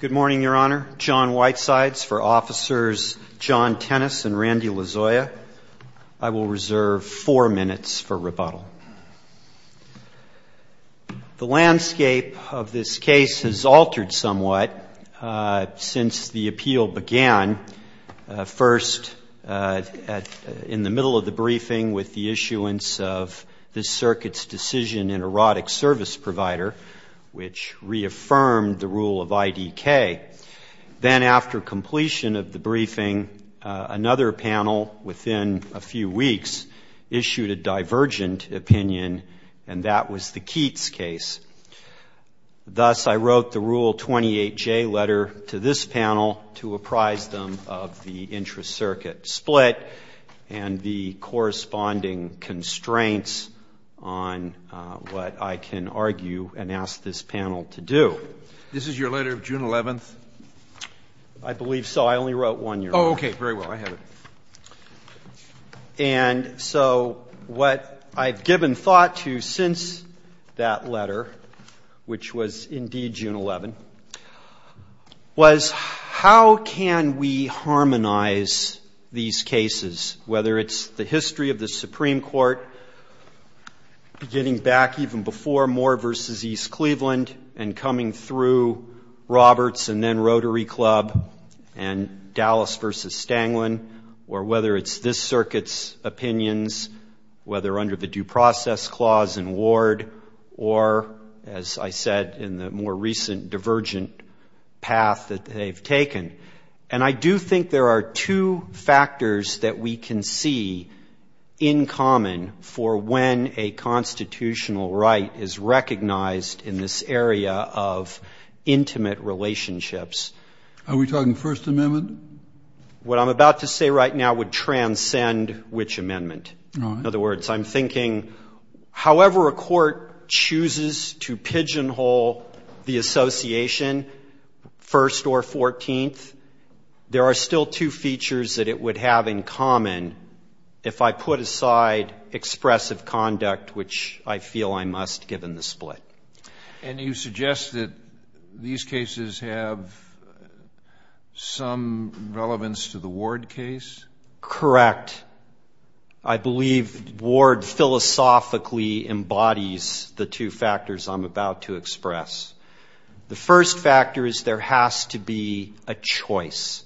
Good morning, Your Honor. John Whitesides for Officers John Tennis and Randy Lozoya. I will reserve four minutes for rebuttal. The landscape of this case has altered somewhat since the appeal began, first in the middle of the briefing with the issuance of this Circuit's decision in erotic service provider, which reaffirmed the rule of IDK. Then after completion of the briefing, another panel within a few weeks issued a divergent opinion, and that was the Keats case. Thus, I wrote the Rule 28J letter to this panel to apprise them of the intra-Circuit split and the corresponding constraints on what I can argue and ask this panel to do. This is your letter of June 11th? I believe so. I only wrote one, Your Honor. Oh, okay. Very well. I have it. And so what I've given thought to since that letter, which was indeed June 11, was how can we harmonize these cases, whether it's the history of the Supreme Court getting back even before Moore v. East Cleveland and coming through Roberts and then Rotary Club and Dallas v. Stanglin, or whether it's this Circuit's opinions, whether under the Due Process Clause in Ward, or as I said in the more recent divergent path that they've taken. And I do think there are two factors that we can see in common for when a constitutional right is recognized in this area of intimate relationships. Are we talking First Amendment? What I'm about to say right now would transcend which amendment. All right. In other words, I'm thinking however a court chooses to pigeonhole the association, First or Fourteenth, there are still two features that it would have in common if I put aside expressive conduct, which I feel I must given the split. And you suggest that these cases have some relevance to the Ward case? Correct. I believe Ward philosophically embodies the two factors I'm about to express. The first factor is there has to be a choice.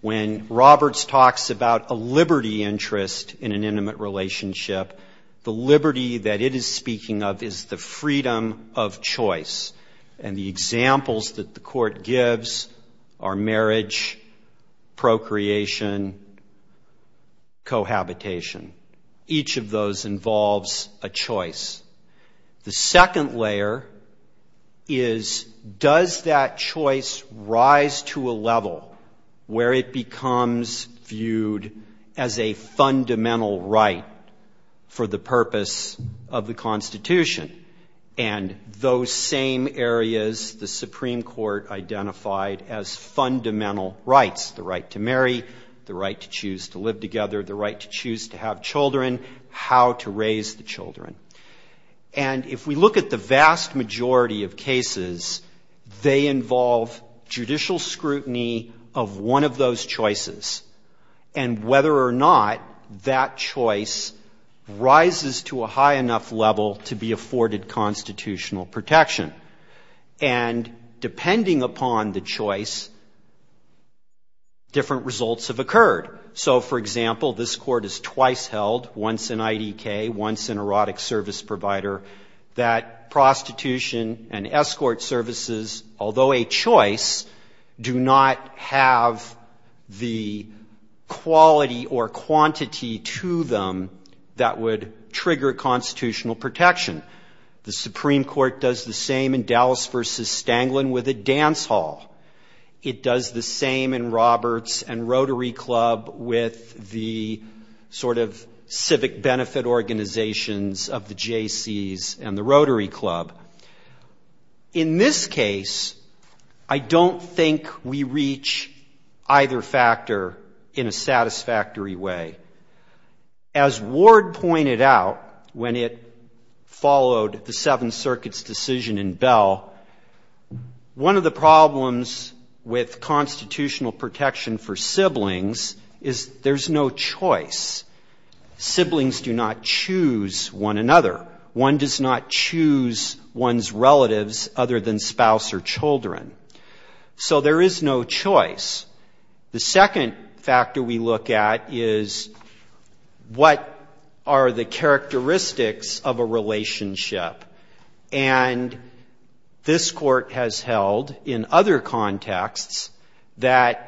When Roberts talks about a liberty interest in an intimate relationship, the liberty that it is speaking of is the freedom of choice. And the examples that the court gives are marriage, procreation, cohabitation. Each of those involves a choice. The second layer is does that choice rise to a level where it becomes viewed as a fundamental right for the purpose of the Constitution? And those same areas the Supreme Court identified as fundamental rights, the right to marry, the right to choose to live together, the right to choose to have children, how to raise the children. And if we look at the vast majority of cases, they involve judicial scrutiny of one of those choices, and whether or not that choice rises to a high enough level to be afforded constitutional protection. And depending upon the choice, different results have occurred. So, for example, this Court has twice held, once in IDK, once in erotic service provider, that prostitution and escort services, although a choice, do not have the quality or quantity to them that would trigger constitutional protection. The Supreme Court does the same in Dallas v. Stanglin with a dance hall. It does the same in Roberts and Rotary Club with the sort of civic benefit organizations of the J.C. and the Rotary Club. In this case, I don't think we reach either factor in a satisfactory way. As Ward pointed out when it followed the Seventh Circuit's decision in Bell, one of the problems with constitutional protection for siblings is there's no choice. Siblings do not choose one another. One does not choose one's relatives other than spouse or children. So there is no choice. The second factor we look at is what are the characteristics of a relationship? And this Court has held in other contexts that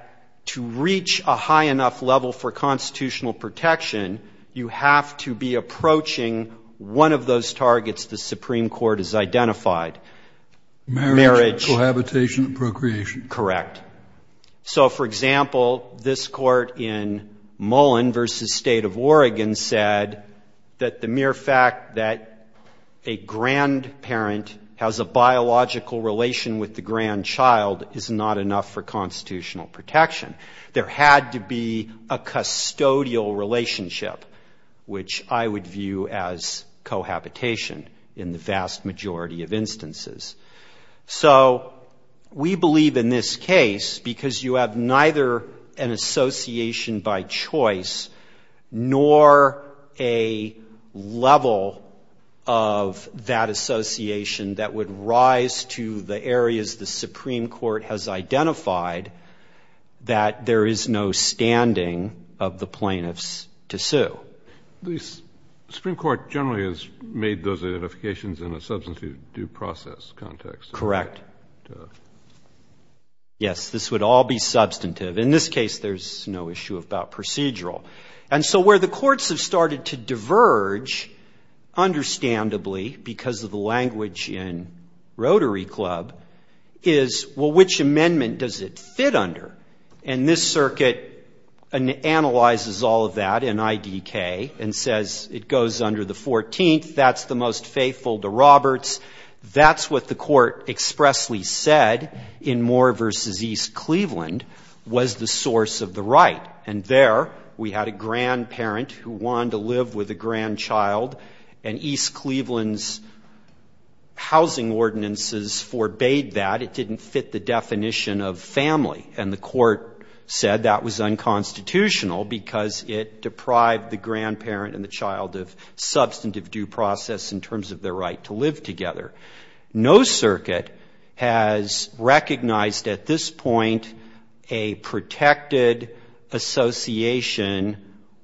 to reach a high enough level for constitutional protection, you have to be approaching one of those targets the Supreme Court has identified. Marriage, cohabitation, and procreation. Correct. So, for example, this Court in Mullen v. State of Oregon said that the mere fact that a grandparent has a biological relation with the grandchild is not enough for constitutional protection. There had to be a custodial relationship, which I would view as cohabitation in the vast majority of instances. So we believe in this case, because you have neither an association by choice, nor a level of that association that would arise to the areas the Supreme Court has identified, that there is no standing of the plaintiffs to sue. The Supreme Court generally has made those identifications in a substantive due process context. Correct. Yes, this would all be substantive. In this case, there's no issue about procedural. And so where the courts have started to diverge, understandably, because of the language in Rotary Club, is, well, which amendment does it fit under? And this Circuit analyzes all of that in IDK and says it goes under the 14th, that's the most faithful to Roberts. That's what the Court expressly said in Moore v. East Cleveland was the source of the right. And there we had a grandparent who wanted to live with a grandchild, and East Cleveland's housing ordinances forbade that. It didn't fit the definition of family. And the Court said that was unconstitutional because it deprived the grandparent and the child of substantive due process in terms of their right to live together. No Circuit has recognized at this point a protected association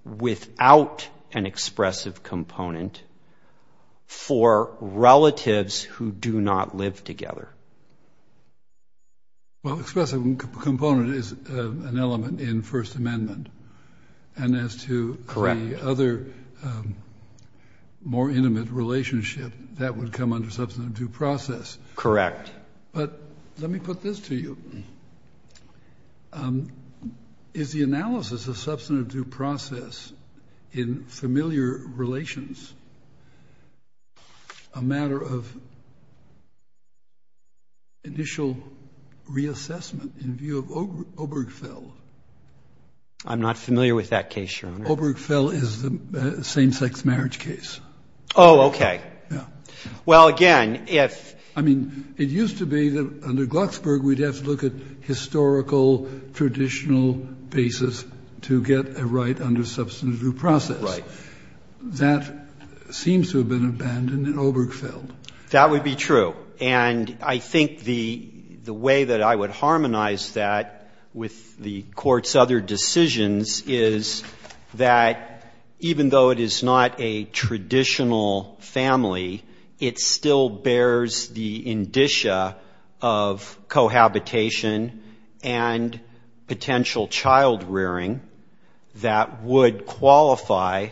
without an expressive component for relatives who do not live together. Well, expressive component is an element in First Amendment. And as to the other more intimate relationship, that would come under substantive due process. Correct. But let me put this to you. Is the analysis of substantive due process in familiar relations a matter of initial reassessment in view of Obergefell? I'm not familiar with that case, Your Honor. Obergefell is the same-sex marriage case. Oh, okay. Well, again, if ---- I mean, it used to be that under Glucksberg we'd have to look at historical, traditional basis to get a right under substantive due process. Right. That seems to have been abandoned in Obergefell. That would be true. And I think the way that I would harmonize that with the Court's other decisions is that even though it is not a traditional family, it still bears the indicia of cohabitation and potential child rearing that would qualify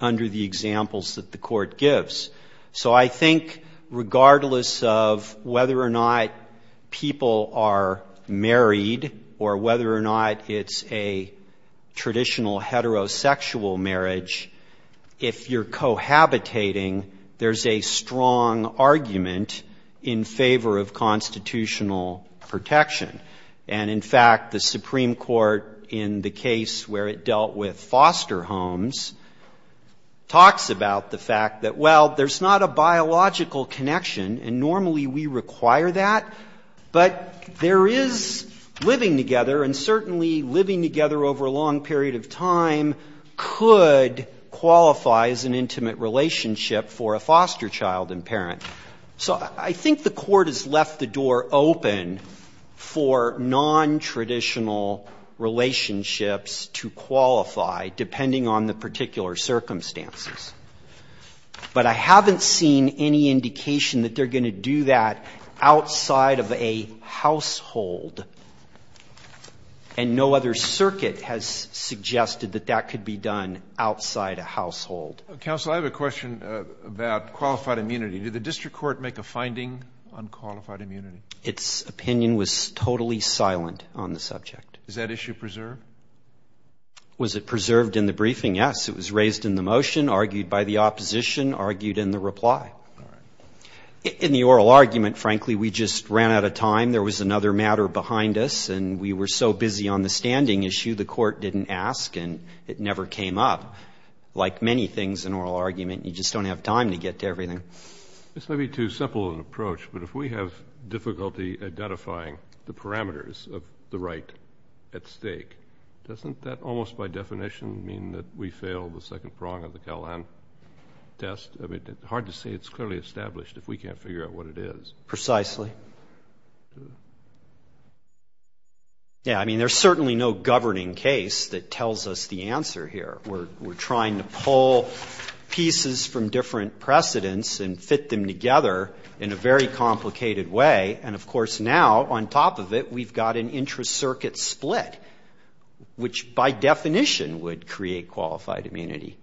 under the examples that the Court gives. So I think regardless of whether or not people are married or whether or not it's a traditional heterosexual marriage, if you're cohabitating, there's a strong argument in favor of constitutional protection. And, in fact, the Supreme Court in the case where it dealt with foster homes talks about the fact that, well, there's a possibility that there's not a biological connection, and normally we require that, but there is living together, and certainly living together over a long period of time could qualify as an intimate relationship for a foster child and parent. So I think the Court has left the door open for nontraditional relationships to qualify, depending on the particular circumstances. But I haven't seen any indication that they're going to do that outside of a household, and no other circuit has suggested that that could be done outside a household. Roberts. Counsel, I have a question about qualified immunity. Did the district court make a finding on qualified immunity? Its opinion was totally silent on the subject. Is that issue preserved? Was it preserved in the briefing? Yes. It was raised in the motion, argued by the opposition, argued in the reply. In the oral argument, frankly, we just ran out of time. There was another matter behind us, and we were so busy on the standing issue, the Court didn't ask, did the district court make a finding on qualified immunity? It's maybe too simple an approach, but if we have difficulty identifying the parameters of the right at stake, doesn't that almost by definition mean that we fail the second prong of the Cal-An test? I mean, it's hard to say it's clearly established if we can't figure out what it is. Precisely. Yeah. I mean, there's certainly no governing case that tells us the answer here. We're trying to pull pieces from different precedents and fit them together in a very complicated way. And, of course, now, on top of it, we've got an intracircuit split, which by definition would create qualified immunity.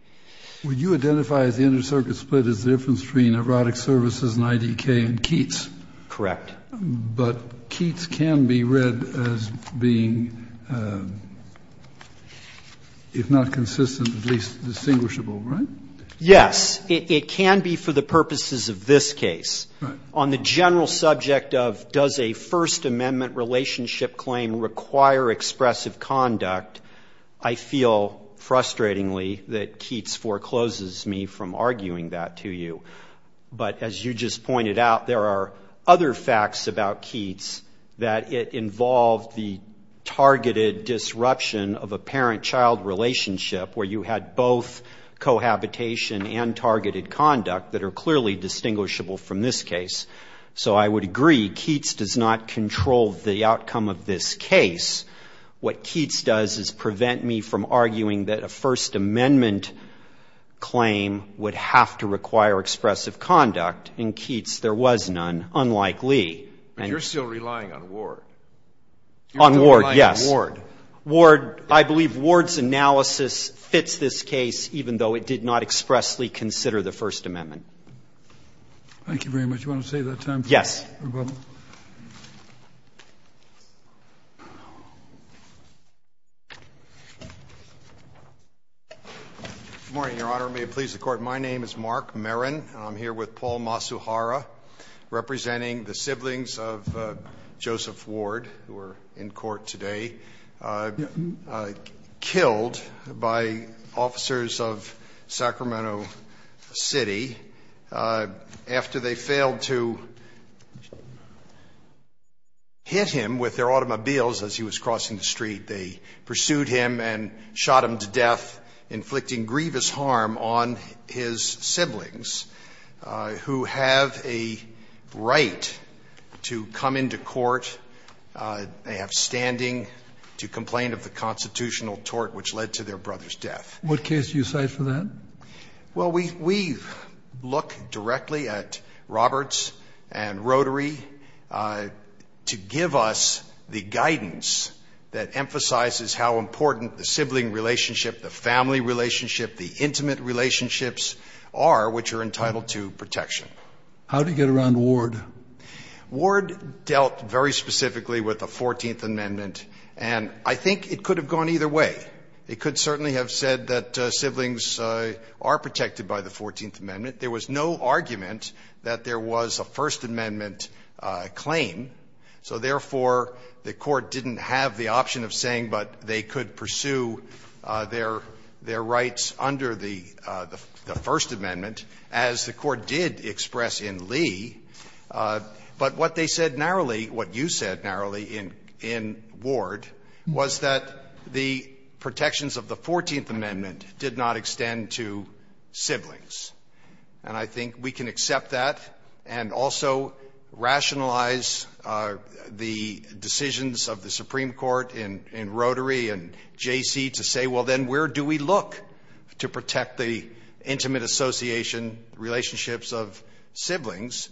Would you identify the intracircuit split as the difference between erotic services and IDK and Keats? Correct. But Keats can be read as being, if not consistent, at least distinguishable, right? Yes. It can be for the purposes of this case. On the general subject of does a First Amendment relationship claim require expressive conduct, I feel frustratingly that Keats forecloses me from arguing that to you. But as you just pointed out, there are other facts about Keats that it involved the targeted disruption of a parent-child relationship where you had both cohabitation and targeted conduct that are clearly distinguishable from this case. So I would agree Keats does not control the outcome of this case. What Keats does is prevent me from arguing that a First Amendment claim would have to require expressive conduct. In Keats, there was none, unlike Lee. But you're still relying on Ward. On Ward, yes. You're still relying on Ward. Ward, I believe Ward's analysis fits this case, even though it did not expressly consider the First Amendment. Thank you very much. Do you want to save that time? Yes. Good morning, Your Honor. May it please the Court. My name is Mark Merrin. I'm here with Paul Masuhara, representing the siblings of Joseph Ward, who are in court today, killed by officers of Sacramento City after they failed to do their due diligence and hit him with their automobiles as he was crossing the street. They pursued him and shot him to death, inflicting grievous harm on his siblings, who have a right to come into court. They have standing to complain of the constitutional tort which led to their brother's death. What case do you cite for that? Well, we look directly at Roberts and Rotary to give us the guidance that emphasizes how important the sibling relationship, the family relationship, the intimate relationships are which are entitled to protection. How did you get around Ward? Ward dealt very specifically with the Fourteenth Amendment, and I think it could have gone either way. It could certainly have said that siblings are protected by the Fourteenth Amendment. There was no argument that there was a First Amendment claim, so therefore, the Court didn't have the option of saying, but they could pursue their rights under the First Amendment, as the Court did express in Lee. But what they said narrowly, what you said narrowly in Ward, was that the protection of the Fourteenth Amendment did not extend to siblings. And I think we can accept that and also rationalize the decisions of the Supreme Court in Rotary and J.C. to say, well, then where do we look to protect the intimate association relationships of siblings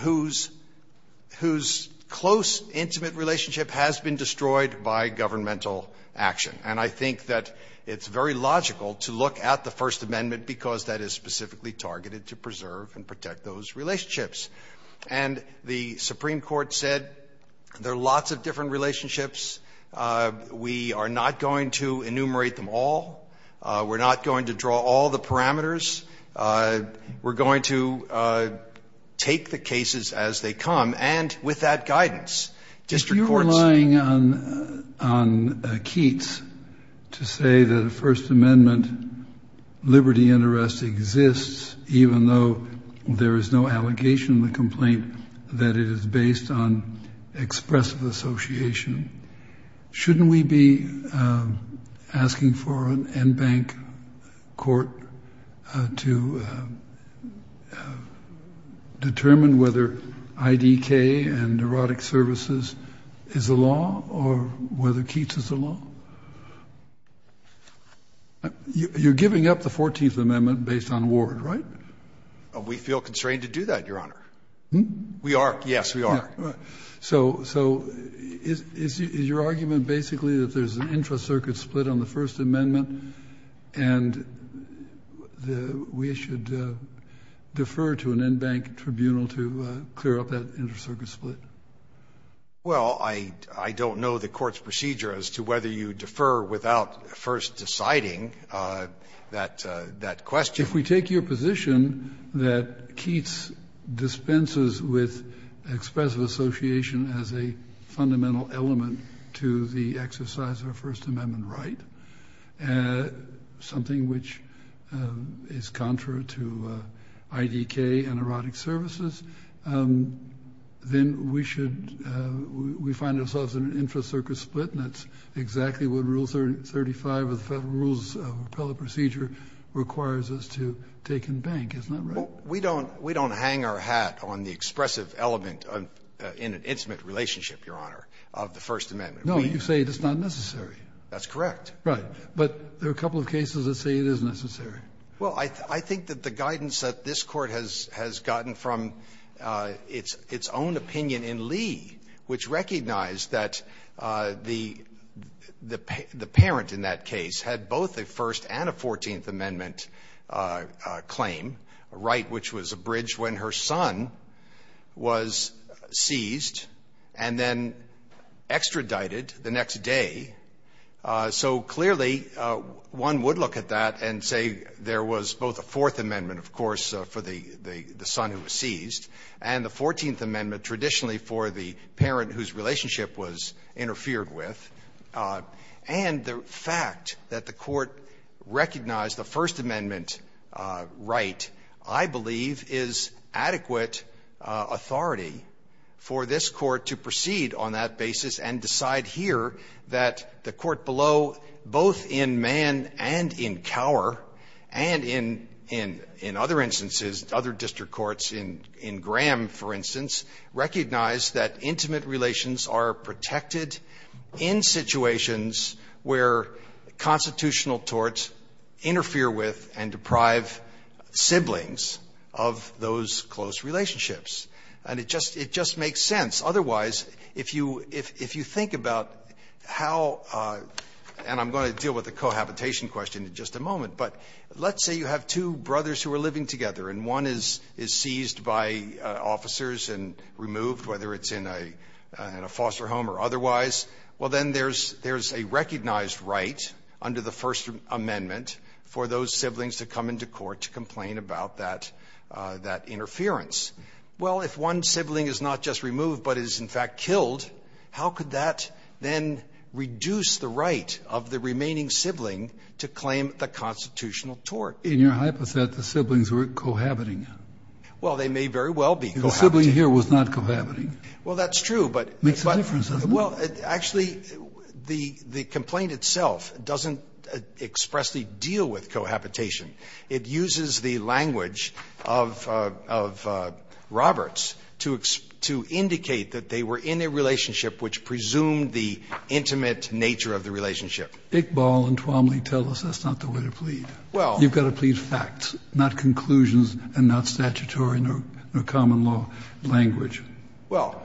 whose close intimate relationship has been destroyed by governmental action? And I think that it's very logical to look at the First Amendment because that is specifically targeted to preserve and protect those relationships. And the Supreme Court said there are lots of different relationships. We are not going to enumerate them all. We're not going to draw all the parameters. We're going to take the cases as they come. And with that guidance, district courts ---- to say that a First Amendment liberty and arrest exists even though there is no allegation in the complaint that it is based on expressive association, shouldn't we be asking for an en banc court to determine whether IDK and neurotic services is the law or whether Keats is the law? You're giving up the Fourteenth Amendment based on Ward, right? We feel constrained to do that, Your Honor. We are. Yes, we are. So is your argument basically that there's an intra-circuit split on the First Amendment and we should defer to an en banc tribunal to clear up that intra-circuit split? Well, I don't know the court's procedure as to whether you defer without first deciding that question. If we take your position that Keats dispenses with expressive association as a fundamental element to the exercise of a First Amendment right, something which is contrary to IDK and neurotic services, then we should ---- we find ourselves in an intra-circuit split, and that's exactly what Rule 35 of the Federal Rules of Appellate Procedure requires us to take en banc, isn't that right? Well, we don't hang our hat on the expressive element in an intimate relationship, Your Honor, of the First Amendment. No, you say it's not necessary. That's correct. But there are a couple of cases that say it is necessary. Well, I think that the guidance that this Court has gotten from its own opinion in Lee, which recognized that the parent in that case had both a First and a Fourteenth Amendment claim, a right which was abridged when her son was seized and then extradited the next day, so clearly one would look at that and say there was both a Fourth Amendment, of course, for the son who was seized, and the Fourteenth Amendment traditionally for the parent whose relationship was interfered with, and the fact that the Court recognized the First Amendment right, I believe, is adequate authority for this Court to proceed on that basis and decide here that the court below, both in Mann and in Cower and in other instances, other district courts, in Graham, for instance, recognized that intimate relations are protected in situations where constitutional torts interfere with and deprive siblings of those close relationships. And it just makes sense. Otherwise, if you think about how — and I'm going to deal with the cohabitation question in just a moment, but let's say you have two brothers who are living together and one is seized by officers and removed, whether it's in a foster home or otherwise, well, then there's a recognized right under the First Amendment for those siblings to come into court to complain about that interference. Well, if one sibling is not just removed but is, in fact, killed, how could that then reduce the right of the remaining sibling to claim the constitutional tort? In your hypothesis, the siblings were cohabiting. Well, they may very well be cohabiting. The sibling here was not cohabiting. Makes a difference, doesn't it? Well, actually, the complaint itself doesn't expressly deal with cohabitation. It uses the language of Roberts to indicate that they were in a relationship which presumed the intimate nature of the relationship. Iqbal and Twomley tell us that's not the way to plead. Well. You've got to plead facts, not conclusions and not statutory nor common law language. Well,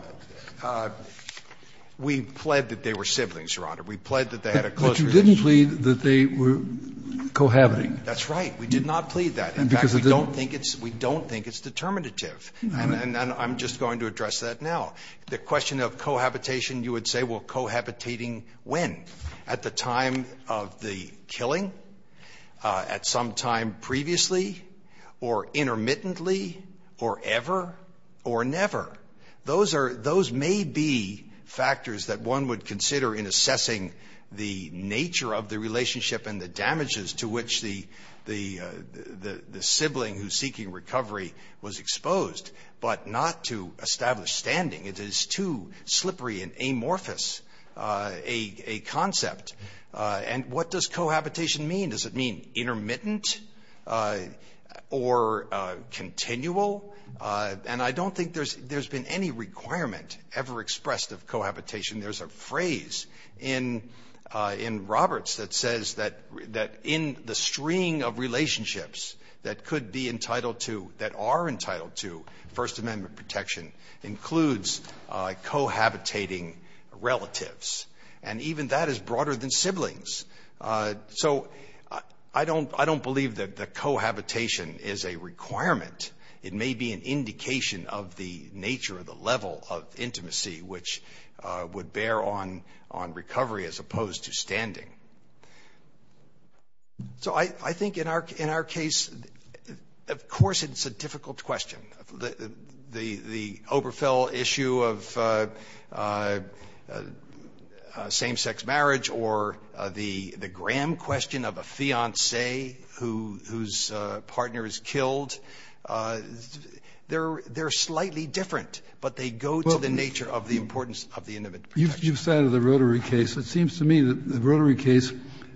we pled that they were siblings, Your Honor. We pled that they had a close relationship. But you didn't plead that they were cohabiting. That's right. We did not plead that. In fact, we don't think it's determinative. And I'm just going to address that now. The question of cohabitation, you would say, well, cohabitating when? At the time of the killing? At some time previously? Or intermittently? Or ever? Or never? Those may be factors that one would consider in assessing the nature of the relationship and the damages to which the sibling who's seeking recovery was exposed, but not to establish standing. It is too slippery and amorphous a concept. And what does cohabitation mean? Does it mean intermittent or continual? And I don't think there's been any requirement ever expressed of cohabitation. There's a phrase in Roberts that says that in the string of relationships that could be entitled to, that are entitled to First Amendment protection, includes cohabitating relatives. And even that is broader than siblings. So I don't believe that the cohabitation is a requirement. It may be an indication of the nature or the level of intimacy which would bear on recovery as opposed to standing. So I think in our case, of course, it's a difficult question. The Oberfell issue of same-sex marriage or the Graham question of a fiancé whose partner is killed, they're slightly different, but they go to the nature of the importance of the intimate protection. Kennedy. Kennedy. You've cited the Rotary case. It seems to me that the Rotary case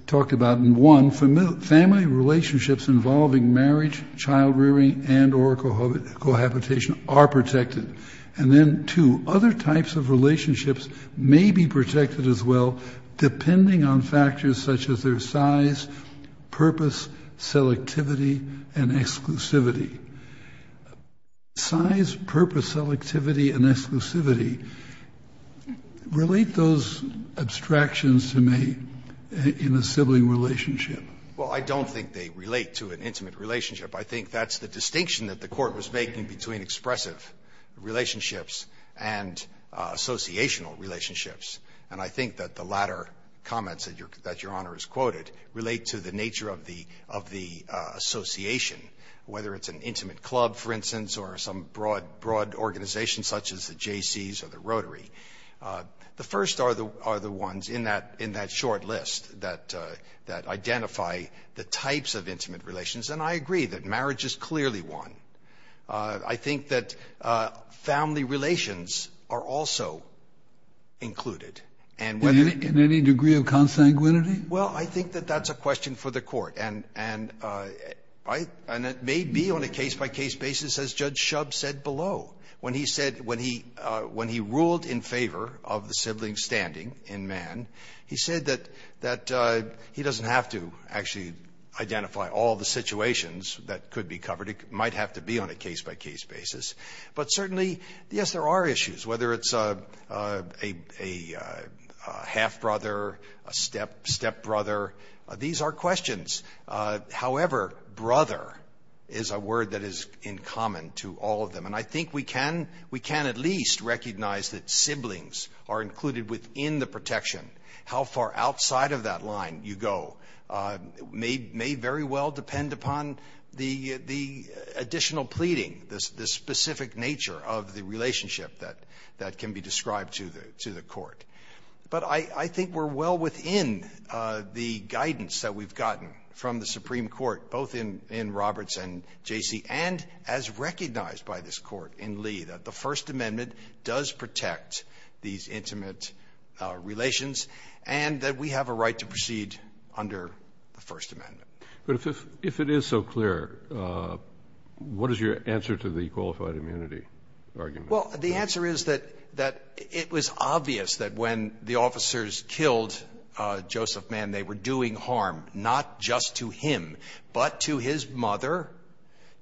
talked about, in one, family relationships involving marriage, child-rearing, and or cohabitation are protected. And then, two, other types of relationships may be protected as well, depending on factors such as their size, purpose, selectivity, and exclusivity. Size, purpose, selectivity, and exclusivity. Relate those abstractions to me in a sibling relationship. Well, I don't think they relate to an intimate relationship. I think that's the distinction that the Court was making between expressive relationships and associational relationships. And I think that the latter comments that Your Honor has quoted relate to the nature of the association, whether it's an intimate club, for instance, or some broad organization such as the Jaycees or the Rotary. The first are the ones in that short list that identify the types of intimate relations, and I agree that marriage is clearly one. I think that family relations are also included. And whether they're- In any degree of consanguinity? Well, I think that that's a question for the Court. And it may be on a case-by-case basis, as Judge Shub said below. When he said, when he ruled in favor of the sibling standing in man, he said that he doesn't have to actually identify all the situations that could be covered. It might have to be on a case-by-case basis. But certainly, yes, there are issues, whether it's a half-brother, a step-brother. These are questions. However, brother is a word that is in common to all of them. And I think we can at least recognize that siblings are included within the protection. How far outside of that line you go may very well depend upon the additional pleading, the specific nature of the relationship that can be described to the Court. But I think we're well within the guidance that we've gotten from the Supreme Court, both in Roberts and J.C., and as recognized by this Court in Lee, that the right to proceed under the First Amendment. But if it is so clear, what is your answer to the qualified immunity argument? Well, the answer is that it was obvious that when the officers killed Joseph Mann, they were doing harm, not just to him, but to his mother,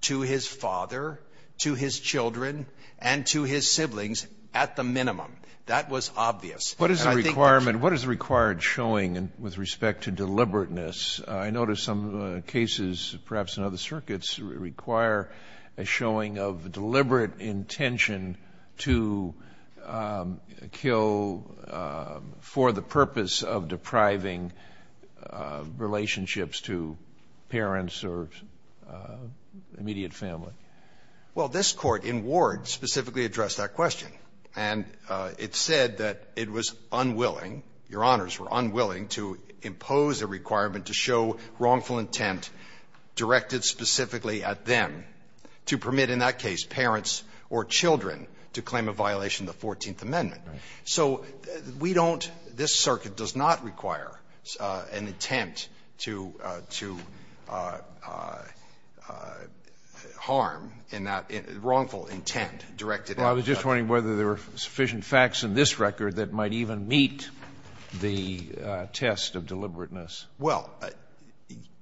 to his father, to his children, and to his siblings, at the minimum. That was obvious. What is the requirement? What is the required showing with respect to deliberateness? I notice some cases, perhaps in other circuits, require a showing of deliberate intention to kill for the purpose of depriving relationships to parents or immediate family. Well, this Court in Ward specifically addressed that question. And it said that it was unwilling, Your Honors, were unwilling to impose a requirement to show wrongful intent directed specifically at them to permit in that case parents or children to claim a violation of the Fourteenth Amendment. So we don't, this circuit does not require an intent to harm in that wrongful intent directed at them. Well, I was just wondering whether there were sufficient facts in this record that might even meet the test of deliberateness. Well,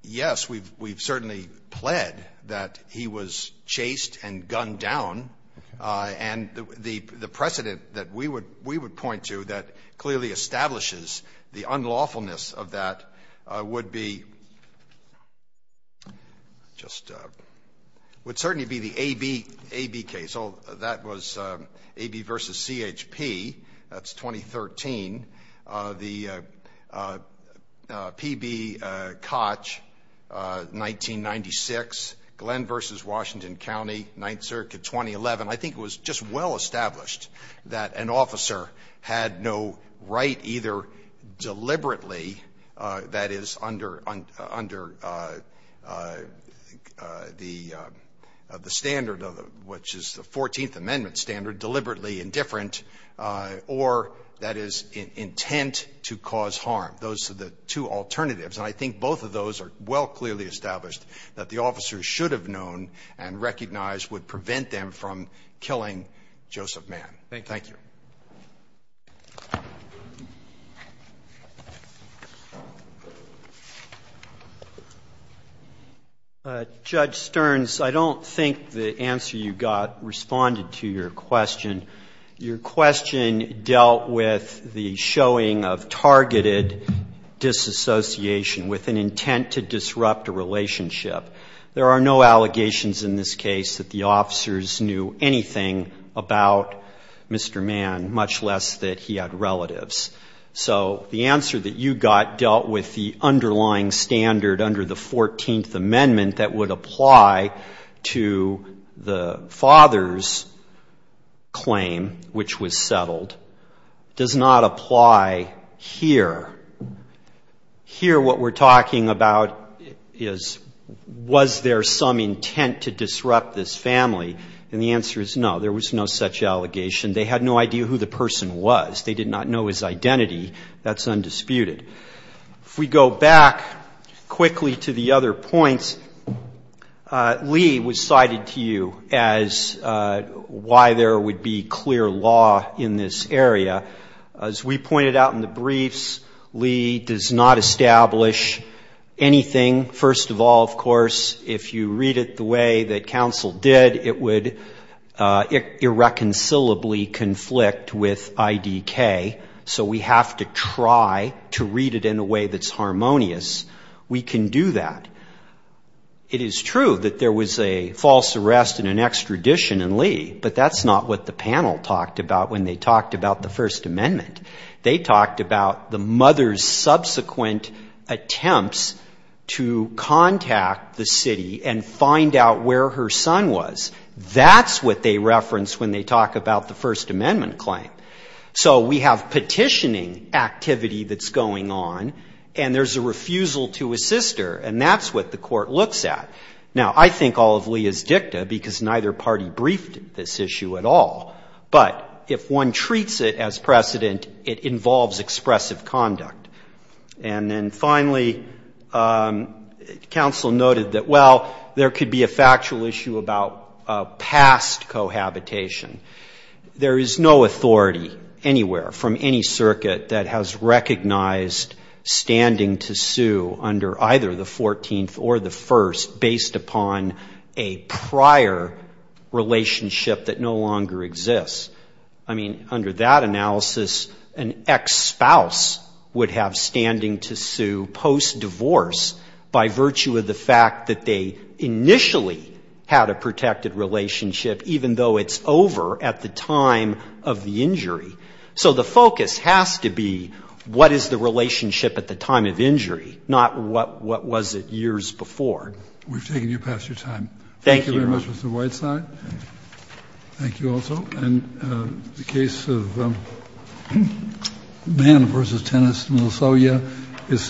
yes, we've certainly pled that he was chased and gunned down. And the precedent that we would point to that clearly establishes the unlawfulness of that would be just, would certainly be the A.B. case. That was A.B. versus C.H.P. That's 2013. The P.B. Koch, 1996. Glenn versus Washington County, Ninth Circuit, 2011. I think it was just well established that an officer had no right either deliberately that is under the standard, which is the Fourteenth Amendment standard, deliberately indifferent, or that is intent to cause harm. Those are the two alternatives. And I think both of those are well clearly established that the officer should have known and recognized would prevent them from killing Joseph Mann. Thank you. Thank you. Judge Stearns, I don't think the answer you got responded to your question. Your question dealt with the showing of targeted disassociation with an intent to disrupt a relationship. There are no allegations in this case that the officers knew anything about Mr. Mann, much less that he had relatives. So the answer that you got dealt with the underlying standard under the Fourteenth Amendment that would apply to the father's claim, which was settled, does not apply here. Here, what we're talking about is was there some intent to disrupt this family? And the answer is no. There was no such allegation. They had no idea who the person was. They did not know his identity. That's undisputed. If we go back quickly to the other points, Lee was cited to you as why there would be clear law in this area. As we pointed out in the briefs, Lee does not establish anything. First of all, of course, if you read it the way that counsel did, it would irreconcilably conflict with IDK. So we have to try to read it in a way that's harmonious. We can do that. It is true that there was a false arrest and an extradition in Lee, but that's not what the panel talked about when they talked about the First Amendment. They talked about the mother's subsequent attempts to contact the city and find out where her son was. That's what they referenced when they talked about the First Amendment claim. So we have petitioning activity that's going on, and there's a refusal to assist her, and that's what the court looks at. Now, I think all of Lee is dicta because neither party briefed this issue at all, but if one treats it as precedent, it involves expressive conduct. And then finally, counsel noted that, well, there could be a factual issue about past cohabitation. There is no authority anywhere from any circuit that has recognized standing to sue under either the 14th or the 1st based upon a prior relationship that no longer exists. I mean, under that analysis, an ex-spouse would have standing to sue post-divorce by virtue of the fact that they initially had a protected relationship even though they were not married. So the focus has to be what is the relationship at the time of injury, not what was it years before. We've taken you past your time. Thank you, Your Honor. Thank you very much, Mr. Whiteside. Thank you. Thank you also. And the case of Mann v. Tenness and Lasogna is submitted.